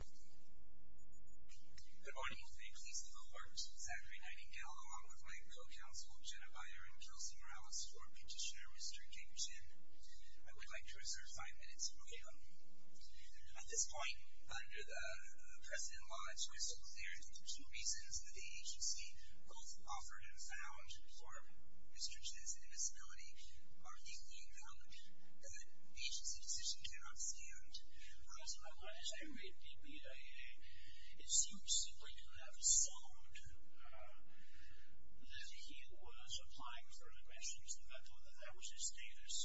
Good morning. May it please the court, Zachary Nightingale, along with my co-counsel Jenna Byer and Kelsey Morales, for petitioner Mr. James Chen. I would like to reserve five minutes for him. At this point, under the present law, it's crystal clear that the two reasons that the agency both offered and vowed for Mr. Chen's invisibility are equally important. The agency's decision cannot stand. Mr. Nightingale, as I read in the BIA, it seems simply to have sounded that he was applying for an admission to the mental health services status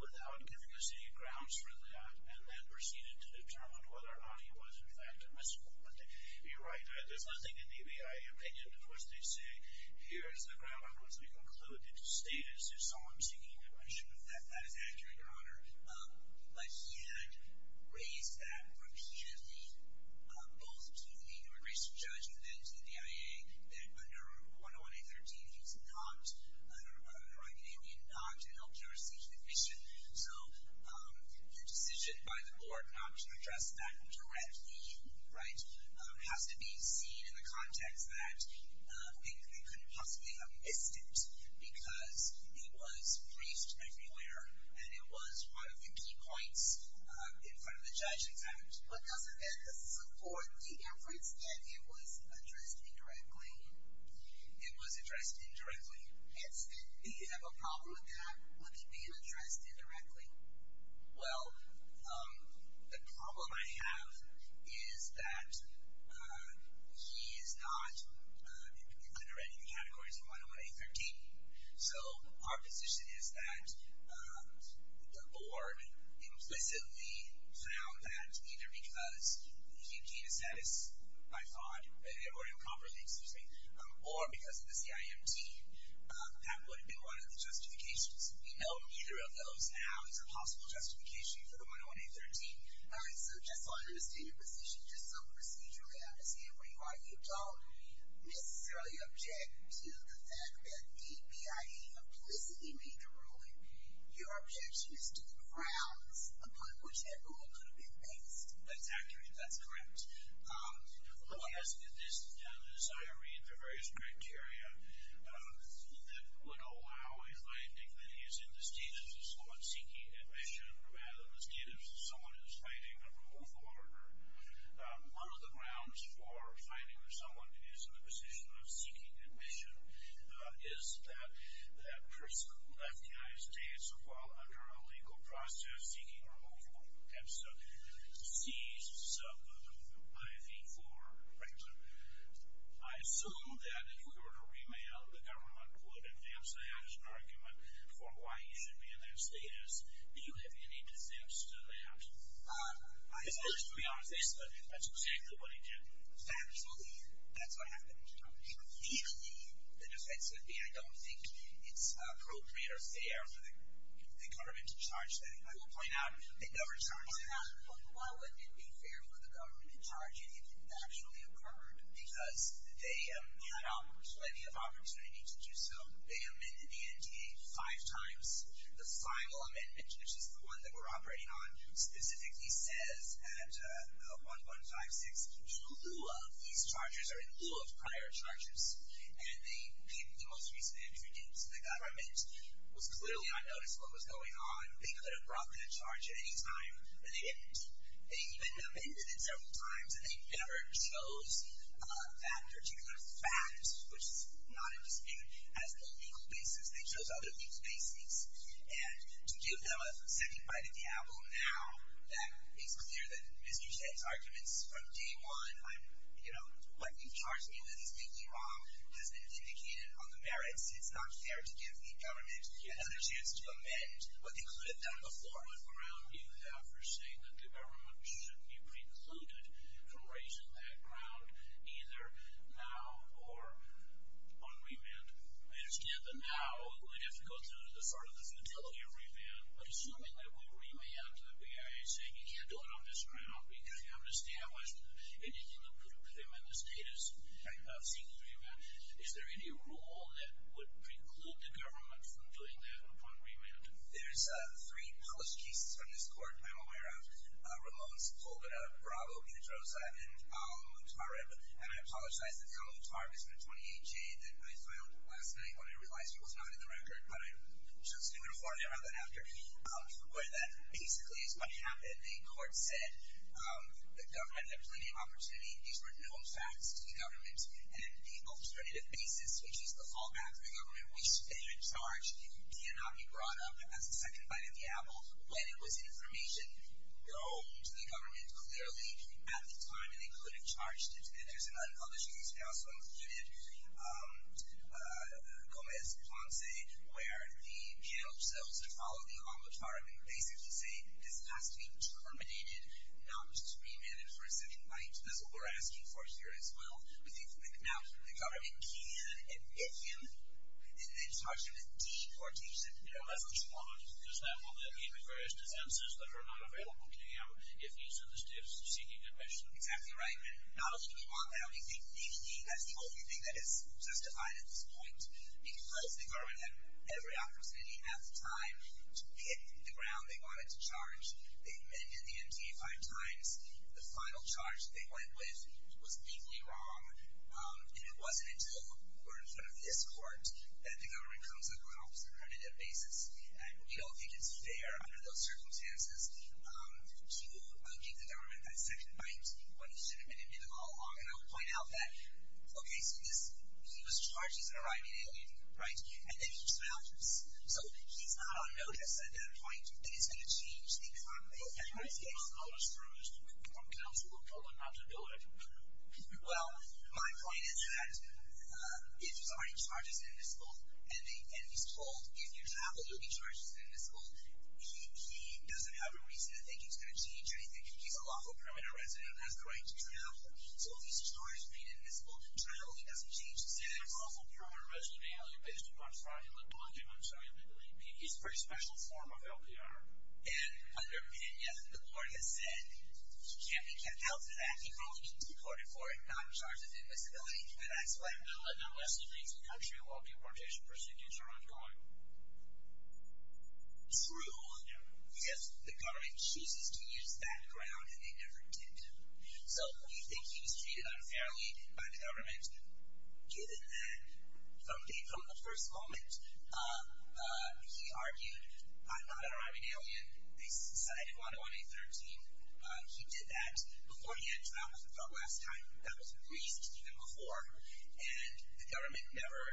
without giving us any grounds for that, and then proceeded to determine whether or not he was in fact a missing person. You're right. There's nothing in the BIA opinion to which they say, Here is the ground I want to be included in the status of someone seeking admission. I'm not sure if that is accurate, Your Honor. But he had raised that repeatedly, both to the human rights judge and then to the BIA, that under 101-813, he was not, under our opinion, not an elder seeking admission. So, the decision by the board not to address that directly, right, has to be seen in the context that they couldn't possibly have missed it because it was placed everywhere, and it was one of the key points in front of the judge, in fact. But doesn't that support the efforts that it was addressed indirectly? It was addressed indirectly. Yes, and do you have a problem with that, with it being addressed indirectly? Well, the problem I have is that he is not under any of the categories of 101-813. So, our position is that the board implicitly found that either because he became a status by thought, or improperly, excuse me, or because of the CIMT, that would have been one of the possible justifications for the 101-813. So, just to understand your position, just some procedure to understand where you are, you don't necessarily object to the fact that the BIA implicitly made the ruling. Your objection is to the grounds upon which that ruling could have been based. That's accurate, that's correct. Well, yes, in this, as I read the various criteria that would allow a finding that he is in the status of thought seeking admission, rather than the status of someone who is fighting a removal order. One of the grounds for finding that someone is in the position of seeking admission is that that person left the United States while under a legal process seeking removal, and so sees some IV-4, for example. I assume that if we were to remail, the government would advance that as an argument for why he should be in that status. Do you have any dissents to that? I suppose, to be honest, that's exactly what he did. Absolutely, that's what happened. For me, the defense would be, I don't think it's appropriate or fair for the government to charge that. I will point out, the government charged him, but why wouldn't it be fair for the government to charge him if it actually occurred? Because they had plenty of opportunity to do so. They amended the NDA five times. The final amendment, which is the one that we're operating on, specifically says at 1.156, in lieu of these charges, or in lieu of prior charges, and the most recent entry dates of the government, was clearly unnoticed what was going on. They could have brought that charge at any time, but they didn't. They even amended it several times, and they never chose that particular fact, which is not in dispute, as a legal basis. They chose other legal basis, and to give them a second bite of the apple now, that makes clear that Mr. J's arguments from day one, what you've charged me with is completely wrong, has been vindicated on the merits. It's not fair to give the government another chance to amend what they could have done before with morale you have for saying that the government should be precluded from raising that ground either now or on remand. I understand that now we'd have to go through the sort of the futility of remand, but assuming that we remand the BIA saying you can't do it on this ground because you haven't established anything to prove him in the status of seeking remand, is there any rule that would push cases from this court? I'm aware of Ramones pulled it up, Bravo, Pedroza, and Alamut Marib, and I apologize that the Alamut Marib isn't a 28-J that I filed last night when I realized it was not in the record, but I just didn't want to worry about that after, where that basically is what happened. The court said the government had plenty of opportunity. These were known facts to the government, and the alternative basis, which is the fallback from the government, which they should charge cannot be brought up as the second bite of the apple when it was information known to the government clearly at the time, and they could have charged it. And there's another other case they also included, Gomez-Ponce, where the jail cells that follow the Alamut Marib basically say this has to be terminated, not just remanded for a second bite. That's what we're asking for here as well. Now, the government can admit him and then charge him with deportation. Yeah, that's what you want, because that will then be the various defenses that are not available to him if he's in the state of seeking depression. Exactly right. Not only do we want that, we think he has the only thing that is justified at this point, because the government had every opportunity at the time to hit the ground they wanted to charge. They remanded the MTA five times. The final charge they went with was legally wrong, and it wasn't until we're in front of this court that the government comes up with an alternative basis. And we don't think it's fair under those circumstances to give the government that second bite when he should have been admitted all along. And I would point out that, okay, so he was charged, he's an Iranian alien, right? And then he trounces. So he's not on notice at that point, and it's going to change the economy. Okay, but he's not on notice through his own counsel, or told him not to do it. Well, my point is that if there's a right charge, he's invisible. And he's told, if you travel, you'll be charged, he's invisible. He doesn't have a reason to think he's going to change anything. He's a lawful permanent resident and has the right to travel. So if he's charged with being invisible, travel, he doesn't change his status. He's a pretty special form of LPR. And under Pena, the court has said, he can't be kept out of that. He probably needs to be courted for it, not charged with invisibility, but that's what I'm doing. Unless he leaves the country while deportation procedures are ongoing. True, because the government chooses to use that ground, and they never intend to. So we think he was treated unfairly by the government, given that, from the first moment, he argued, I'm not an Iranian alien. They sent me to Juana on May 13th. He did that before he had a trial, as we thought last time. That was the reason, even before. And the government never,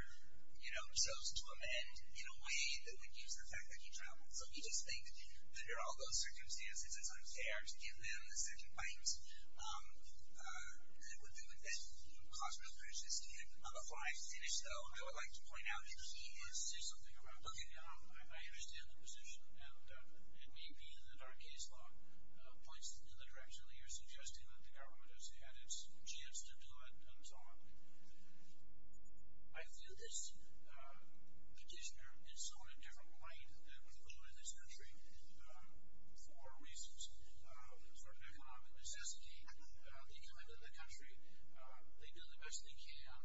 you know, chose to amend in a way that would use the fact that he traveled. So we just think, under all those circumstances, it's unfair to give them the second bite. That would mean that he would cause real criticism. And before I finish, though, I would like to point out that he wants to say something about looking down. I understand the position, and it may be that our case law points in the direction that you're suggesting that the government has had its chance to do it, and so on. I feel this petitioner is someone of this country for reasons of economic necessity. He committed the country. They did the best they can.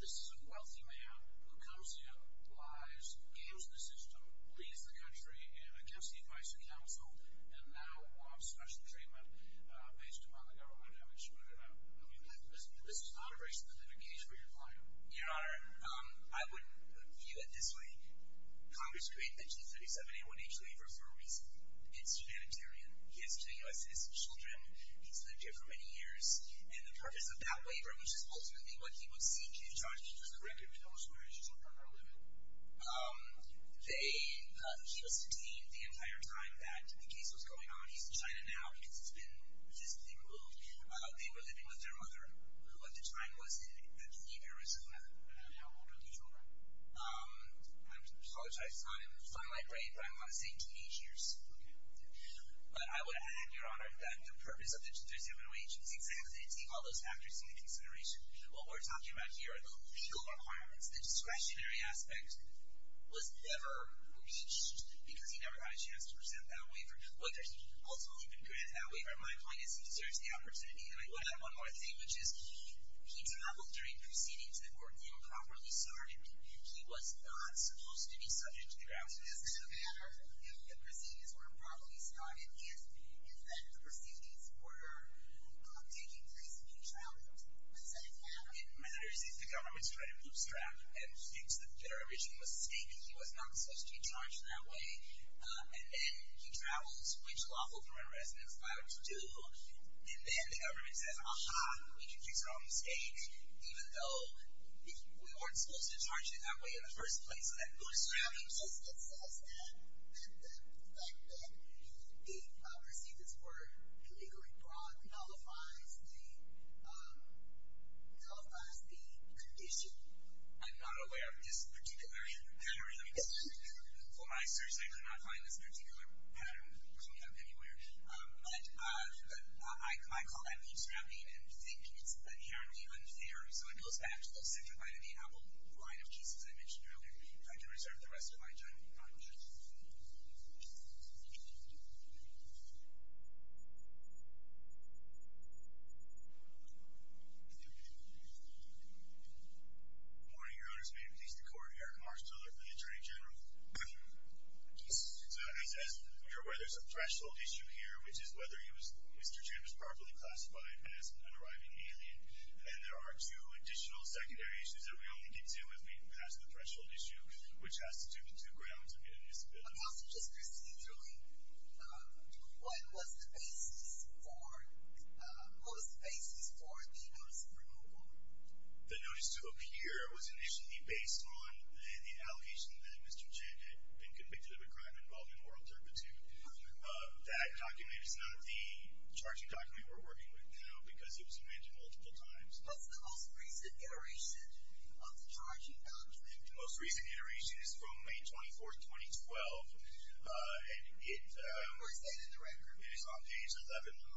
This is a wealthy man who comes here, lies, games with the system, leaves the country, against the advice of counsel, and now wants special treatment based upon the government. I mean, this is not a race-specific case where you're playing. Your Honor, I would view it this way. Congress created the G37A1H waiver for a reason. It's humanitarian. He has two U.S. citizen children. He's lived here for many years, and the purpose of that waiver, which is ultimately what he would seek, is to try to keep the record of those marriages within our limit. He was detained the entire time that the case was going on. He's in China now because it's been about how old are these children? I apologize. It's not in my brain, but I want to say teenage years. But I would add, Your Honor, that the purpose of the G37A1H is exactly to take all those factors into consideration. What we're talking about here are the official requirements. The discretionary aspect was never reached because he never had a chance to present that waiver, whether he ultimately recruited that waiver. My point is he deserves the opportunity. I would add one more thing, which is he traveled during proceedings that were improperly started. He was not supposed to be subject to the grounds. It doesn't matter if the proceedings were improperly started, if the proceedings were taking place in his childhood. What does that even matter? It matters if the government's credit loops around and states that there are original mistakes. He was not supposed to be charged in that way. And then he travels, which lawful current residents are allowed to do. And then the government says, ah-ha, we can fix our own mistakes, even though we weren't supposed to be charged in that way in the first place. So that loops around. The existence of the fact that he received this work illegally brought nullifies the condition. I'm not aware of this particular pattern. Before I search, I did not find this particular pattern coming up anywhere. But my call to that loops around me and I think it's inherently unfair. So it goes back to the central vitamin apple line of cases I mentioned earlier. If I can reserve the rest of my time, I would. Good morning, Your Honors. May it please the Court, Eric Marsh Miller, the Attorney General. Good morning, Justice Ginsburg. As you're aware, there's a threshold issue here, which is whether Mr. Jim is properly classified as an unarriving alien. And there are two additional secondary issues that we only get to if we can pass the threshold issue, which has to do with two grounds of inadmissibility. Counsel, Justice Ginsburg, what was the basis for the notice of convicted of a crime involving oral turpitude? That document is not the charging document we're working with now because it was amended multiple times. What's the most recent iteration of the charging document? The most recent iteration is from May 24th, 2012. Where is that in the record? It is on page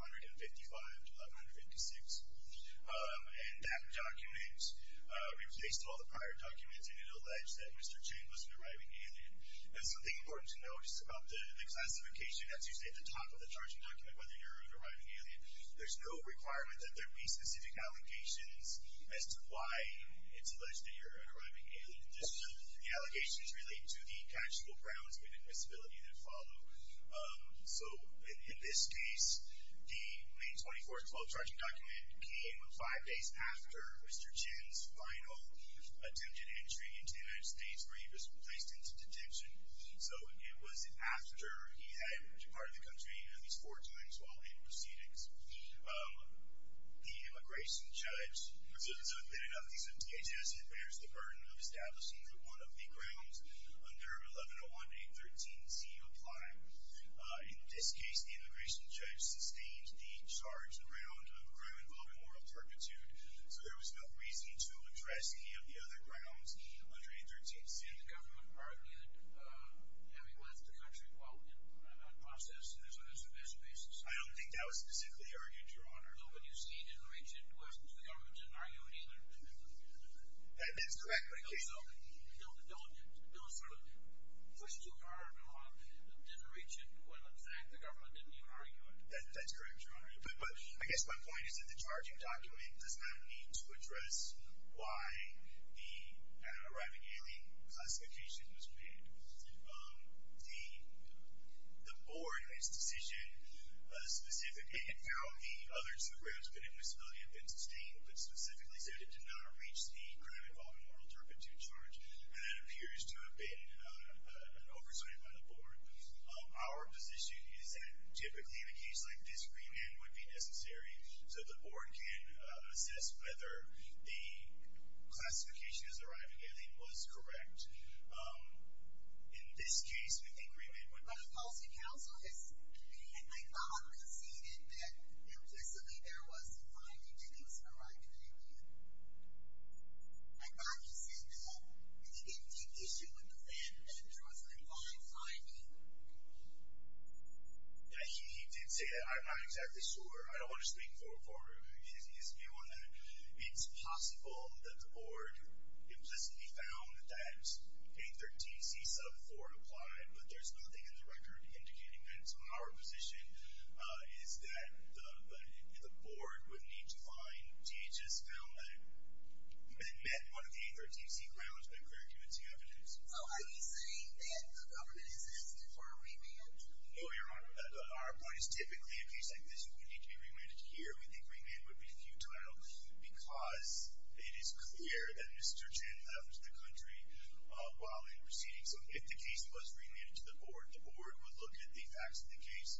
11, 155 to 1156. And that document, it was based on all the prior documents, and it alleged that Mr. Jim was an arriving alien. And something important to note is about the classification, that's usually at the top of the charging document, whether you're an arriving alien. There's no requirement that there be specific allegations as to why it's alleged that you're an arriving alien. The allegations relate to the actual grounds of inadmissibility that follow. So in this case, the May 24th, 2012 was Mr. Jim's final attempted entry into the United States where he was placed into detention. So it was after he had departed the country at least four times while in proceedings. The immigration judge, it bears the burden of establishing that one of the grounds under 1101-813-Z apply. In this case, the immigration judge sustained the charged ground involving moral turpitude. So there was no reason to address any of the other grounds under 813-Z. The government argued that he left the country while in process, so that's the best basis. I don't think that was specifically argued, Your Honor. No, but you see, he didn't reach into it. The government didn't argue it either. That's correct. They sort of pushed too hard and didn't reach into it. In fact, the government didn't even argue it. That's correct, Your Honor. But I guess my point is that the charging document does not need to address why the arriving alien classification was made. The Board, in its decision, specifically had found the other two grounds of inadmissibility had been sustained, but specifically said it did not reach the ground involving moral turpitude charge. And that appears to have been an oversight by the Board. Our position is that typically, in a case like this, agreement would be necessary so the Board can assess whether the classification of the arriving alien was correct. In this case, we think agreement would be necessary. But the policy counsel has, I thought, conceded that implicitly there was a finding that it was an issue with the land address that involved finding. Yeah, he did say that. I'm not exactly sure. I don't want to speak for his view on that. It's possible that the Board implicitly found that 813c sub 4 applied, but there's nothing in the record indicating that. So our position is that the Board would need to find DHS found that met one of the 813c grounds by clear convincing evidence. Oh, are you saying that the government is asking for a remand? No, Your Honor. But our point is typically, in a case like this, it would need to be remanded here. We think remand would be futile because it is clear that Mr. Chen left the country while in proceedings. So if the case was remanded to the Board, the Board would look at the facts of the case,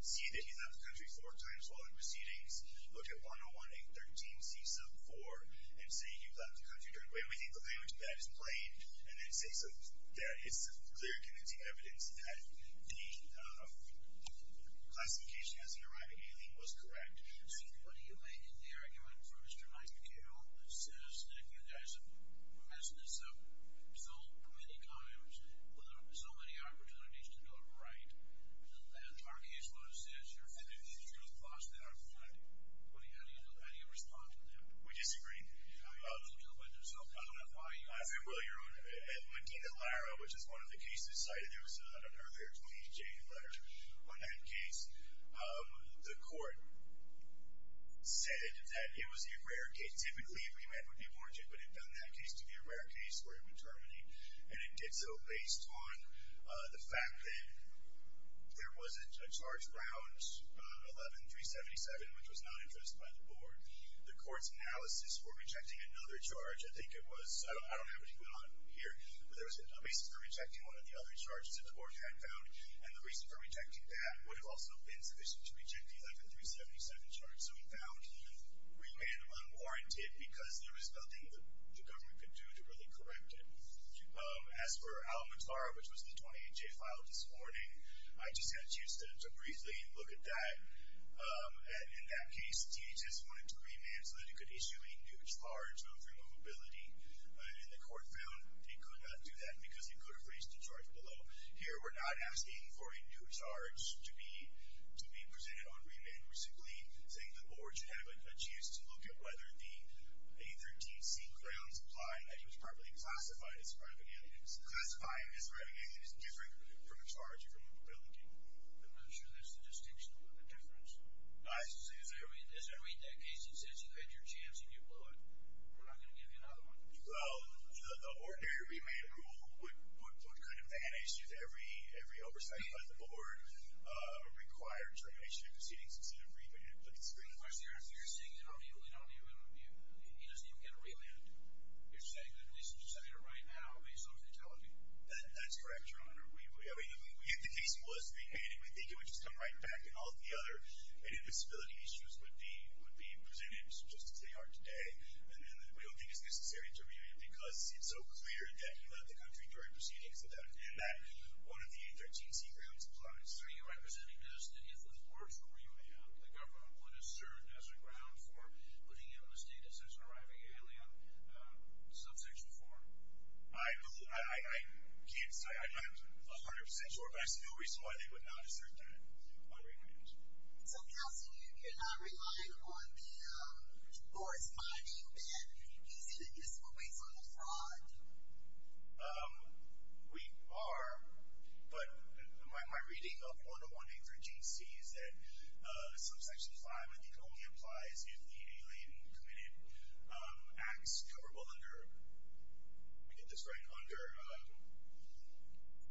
see that he left the country four times while in proceedings, look at 101-813c sub 4, and say he left the country. We think the language of that is plain, and it's clear convincing evidence that the classification as an arriving alien was correct. So what do you make of the argument for Mr. Mike McHale that says that you guys have messed this up so many times, with so many opportunities to go right? Our case law says you're finding these truth plots that are flawed. What do you have to do? How do you respond to that? We disagree. How do you respond to that? They'll kill themselves. I don't know why you guys are- Well, Your Honor, when David Lara, which is one of the cases cited, there was an earlier 20-J letter on that case. The court said that it was a rare case. Typically, a remand would be warranted, but it doesn't have to be a rare case where it would terminate. And it did so based on the fact that there wasn't a charge around 11-377, which was not addressed by the Board. The court's analysis for rejecting another charge, I think it was, I don't have it on here, but there was a basis for rejecting one of the other charges that the Board had found. And the reason for rejecting that would have also been sufficient to reject the 11-377 charge. So we found remand unwarranted because there was nothing that the government could do to really correct it. As for Al-Matar, which was the 20-J file this morning, I just had a chance to briefly look at that. In that case, DHS wanted to remand so that it could issue a new charge of removability. And the court found it could not do that because it could have raised the charge below. Here, we're not asking for a new charge to be presented on remand. We're simply saying the Board should have a chance to look at whether the 813C grounds imply that he was properly classified as a private alien. Classifying as a private alien is different from a charge of removability. I'm not sure that's the distinction or the difference. As I read that case, it says you had your chance and you blew it. We're not going to give you another one. Well, the ordinary remand rule would put kind of ban issues every oversight by the Board, required termination of proceedings instead of remand. But it's pretty clear. Of course, if you're saying you don't need remand, he doesn't even get a remand. You're saying that at least you should say it right now based on what they're telling you. That's correct, Your Honor. If the case was remanded, we think it would just come right back and all the other invisibility issues would be presented just as they are today. And then we don't think it's necessary to remand because it's so clear that he left the country during proceedings and that one of the 813C grounds applies. Are you representing those cities with words for remand? The government would assert it as a ground for putting him in a state detention or arriving in an alien subsection form. I can't say. I'm 100% sure, but I see no reason why they would not assert that on remand. So, Counsel, you're not relying on the corresponding that he's invisible based on a fraud? We are, but my reading of 101813C is that subsection 5, I think, only applies if the alien committed acts coverable under, we get this right, under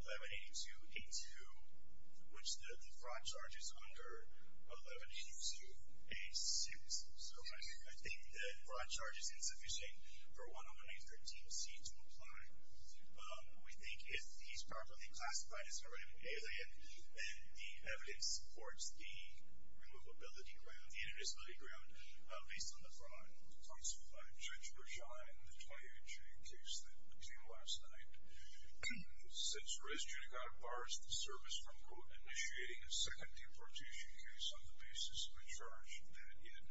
1182A2, which the fraud charge is under 1182A6. So I think the fraud charge is insufficient for 101813C to apply. We think if he's properly classified as an alien, then the evidence supports the inadmissibility ground based on the fraud. Counsel, Judge Bergey and the 28J case that came last night, since Res Judicata bars the service from, quote, initiating a second deportation case on the basis of a charge that, in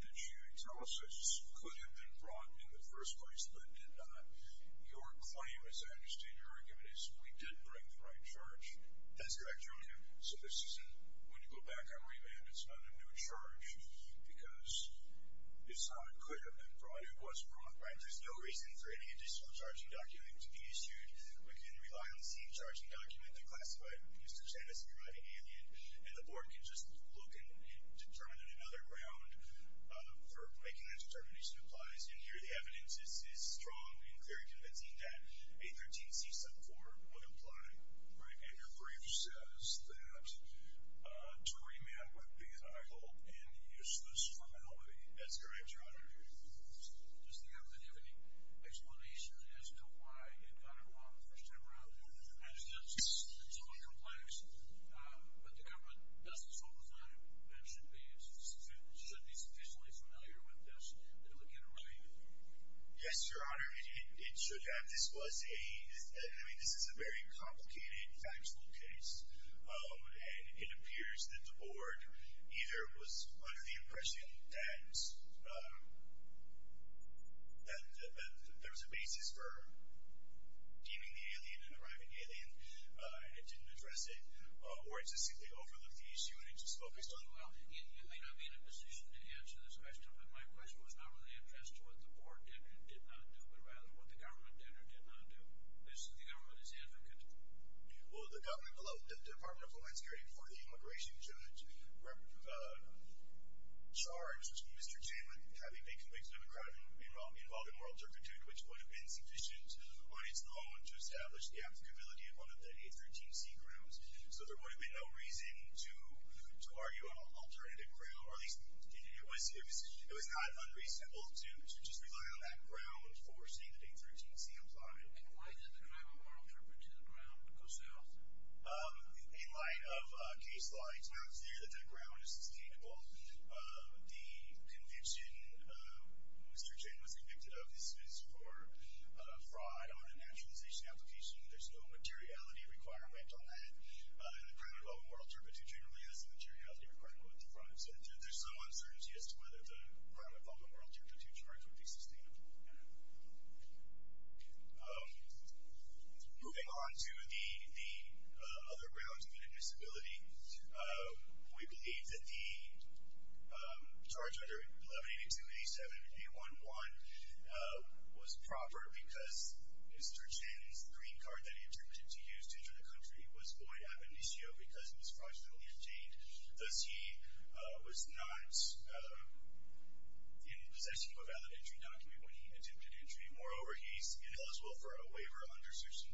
the jury analysis, could have been brought in the first place but did not, your claim, as I understand your argument, is we did bring the right charge. That's correct, Your Honor. So this isn't, when you go back on remand, it's not a new charge, because it's not could have been brought, it was brought, right? There's no reason for any additional charging document to be issued. We can rely on the same charging document to classify Mr. Chen as a surviving alien, and the board can just look and determine another ground for making that determination applies, and here the evidence is strong and very convincing that 813C subform would apply. Right, and your brief says that to remand would be, I hope, in useless formality. That's correct, Your Honor. Does the evidence have any explanation as to why it got it wrong the first time around? I mean, it's all complex, but the government doesn't solve the problem. That should be sufficiently familiar with this and look at it right. Yes, Your Honor, it should have. This was a, I mean, this is a very complicated, factual case, and it appears that the board either was under the impression that there was a basis for deeming the alien a private alien and didn't address it, or it just simply overlooked the issue and it just focused on Well, you may not be in a position to answer this question, but my question was not really as to what the board did or did not do, but rather what the government did or did not do. This is the government's advocate. Will the government below the Department of Homeland Security before the immigration judge charge Mr. Chairman having been convicted of a crime involving moral turpitude, which would have been sufficient when it's known to establish the applicability of one of the 813C grounds, so there would have been no reason to argue on an alternative ground, or at least it was not unreasonable to just rely on that ground for saying that 813C applied. In light of the crime of moral turpitude, the ground goes south. In light of case law, it's not clear that that ground is sustainable. The conviction, Mr. Chairman was convicted of, this is for fraud on a naturalization application. There's no materiality requirement on that. And the crime of moral turpitude generally has a materiality requirement for fraud. There's some uncertainty as to whether the crime of moral turpitude charge would be sustainable. Moving on to the other grounds of inadmissibility. We believe that the charge under 1182, 87, and 811 was proper because Mr. Chen's green card that he attempted to use to enter the country was void ab initio because it was fraudulently obtained. Thus, he was not in possession of a valid entry document when he attempted entry. Moreover, he's ineligible for a waiver under section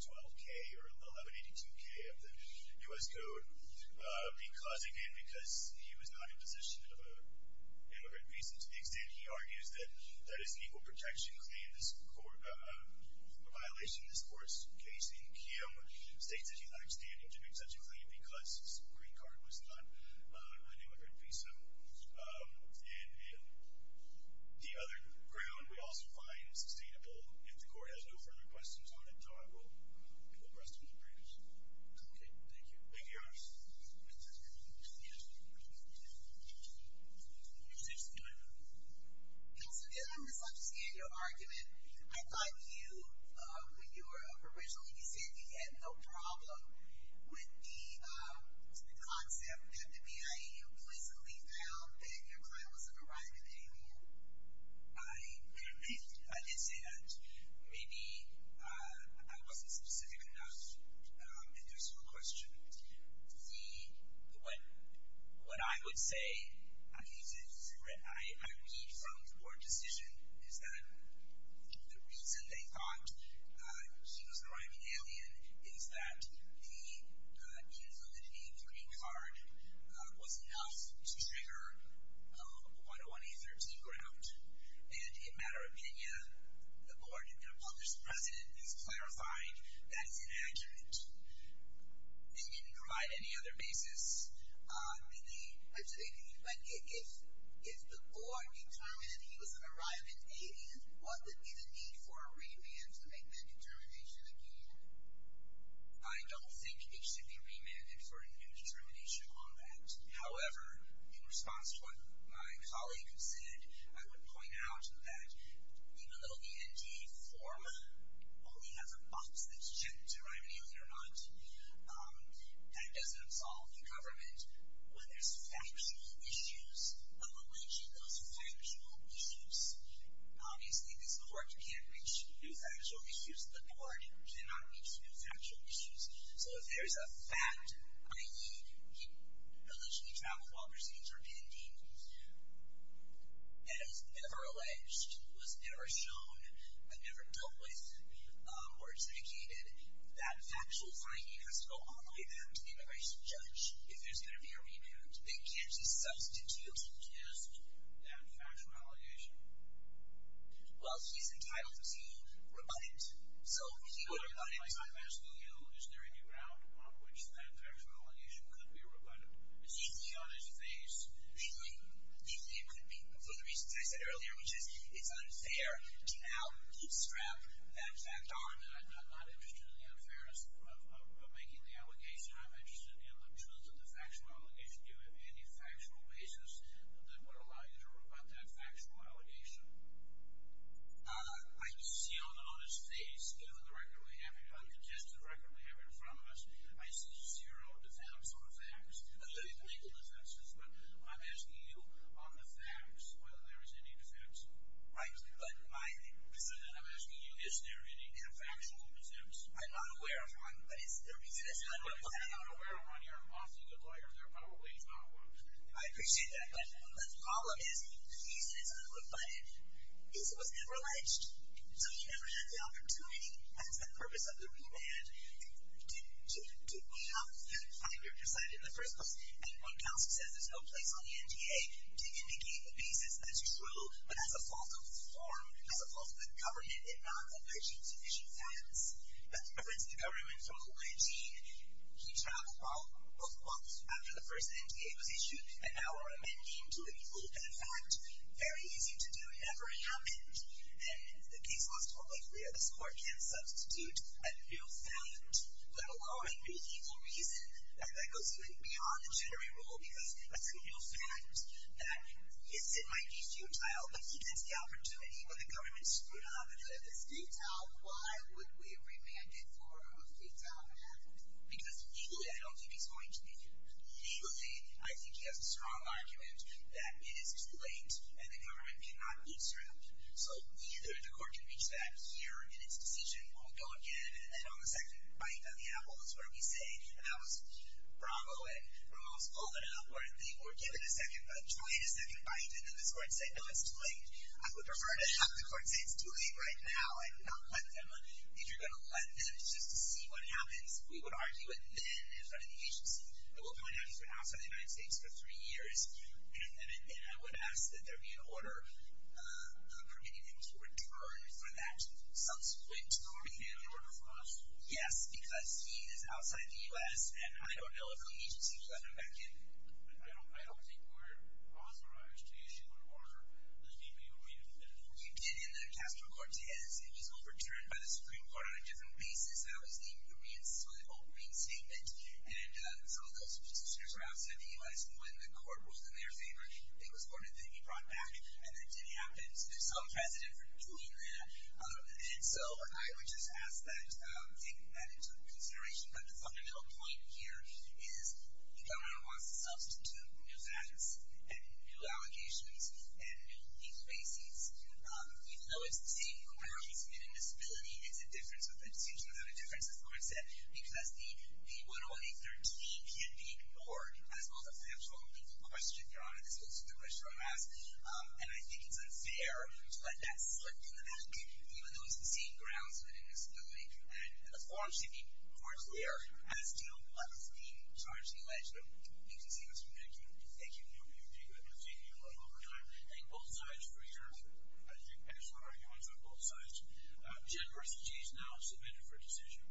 12K or 1182K of the US Code because, again, because he was not in possession of an immigrant visa. To the extent he argues that that is an equal protection claim, a violation of this court's case in Kiowa, states that he's not standing to do such a claim because his green card was not an immigrant visa. And the other ground, we also find sustainable. If the court has no further questions on it, I will go to the rest of the briefs. Thank you. Thank you, Your Honor. Thank you, Mr. Chairman. Thank you. Thank you, Mr. Chairman. Thank you. Thank you. Thank you, Mr. Chairman. Thank you, Mr. Chairman. Thank you. Counsel, did I misunderstand your argument? I thought you, when you were originally visiting, you had no problem with the concept that the BIA implicitly found that your client was an arrival alien. I did say that. Maybe I wasn't specific enough. And there's one question. The, what I would say, I read from the board decision, is that the reason they thought she was an arriving alien is that the, in her validity, the green card was enough to trigger a 101A13 ground. And in matter of opinion, the board and their published president has clarified that is an argument. They didn't provide any other basis. The, I'm sorry, if the board determined he was an arriving alien, what would be the need for a remand to make that determination again? I don't think it should be remanded for a new determination on that. However, in response to what my colleague has said, I would point out that even though the NDA form only has a box that's checked to arrive an alien or not, that doesn't absolve the government when there's factual issues of alleging those factual issues. Obviously, this board can't reach new factual issues. The board cannot reach new factual issues. So, if there's a fact, i.e. he allegedly traveled while there's an interpending, that was never alleged, was never shown, and never dealt with or indicated, that factual finding has to go on by them to the immigration judge. If there's going to be a remand, they can't just substitute to suggest that factual allegation. Well, he's entitled to rebut it. So, he would rebut it. I'm asking you, is there any ground on which that factual allegation could be rebutted? Is he beyond his face? He could be for the reasons I said earlier, which is it's unfair to outstrap that fact arm. I'm not interested in the unfairness of making the allegation. I'm interested in the truth of the factual allegation. Do you have any factual basis that would allow you to rebut that factual allegation? I see on his face, given the record we have here, the congestive record we have in front of us, I see zero defense on the facts. Legal defenses, but I'm asking you on the facts, whether there is any defense. Right. But I'm asking you, is there any factual defense? I'm not aware of one, but is there a reason? If you're not aware of one, you're an awfully good lawyer. There probably is not one. I appreciate that. But the problem is, he's entitled to rebut it, is it was never alleged. So, he never had the opportunity, that's the purpose of the remand, to weigh out that we're presiding in the first place. And when counsel says there's no place on the NDA to indicate a basis that's true, but has a fault of the form, has a fault of the government, it's not alleging sufficient facts. That's a reference to the government from 19, he traveled 12 months after the first NDA was issued, and now we're amending to a rule that, in fact, very easy to do. It never happened. And the case was totally clear. This court can substitute a real fact that will go on for legal reason, that goes even beyond the jittery rule, because that's a real fact, that it might be futile, but he gets the opportunity when the government screwed up. If it's futile, why would we remand it for a futile man? Because legally, I don't think he's going to be here. Legally, I think he has a strong argument that it is too late, and the government cannot beat around. So neither the court can reach that here in its decision. We'll go again, and on the second bite on the apple is where we say, and that was Bravo at Ramos pulling it up, where they were given a second, trying a second bite, and then this court said, no, it's too late. I would prefer to have the court say, it's too late right now, and not let them. If you're going to let them just to see what happens, we would argue it then in front of the agency, but we'll point out he's been outside the United States for three years, and I would ask that there be an order permitting him to return for that subsequent term. Can you give me an order for that? Yes, because he is outside the U.S., and I don't know if the agency would let him back in. But I don't think we're authorized to issue an order. Let's keep it a wait and see. We did in Castro-Cortez. It was overturned by the Supreme Court on a different basis. That was the insolvable green statement, and the filibusters were outside the U.S., and when the court was in their favor, it was ordered that he be brought back, and it did happen. So there's some precedent for doing that, and so I would just ask that they take that into consideration. But the fundamental point here is the governor wants to substitute new facts, and new allocations, and new case basings, even though it's the same for where he's been in disability. It's a distinction without a difference, as Lauren said, because the 10813 can be ignored as well as a financial question, Your Honor. This is a question I'm asked, and I think it's unfair to let that slip in the back, even though it's the same grounds within disability, and the form should be more clear as to what is being charged in the legislature. Thank you, Mr. Chairman. Thank you. Thank you, Mr. Chairman, for taking your time. Thank you both sides for your excellent arguments on both sides. General Richardson is now submitted for decision.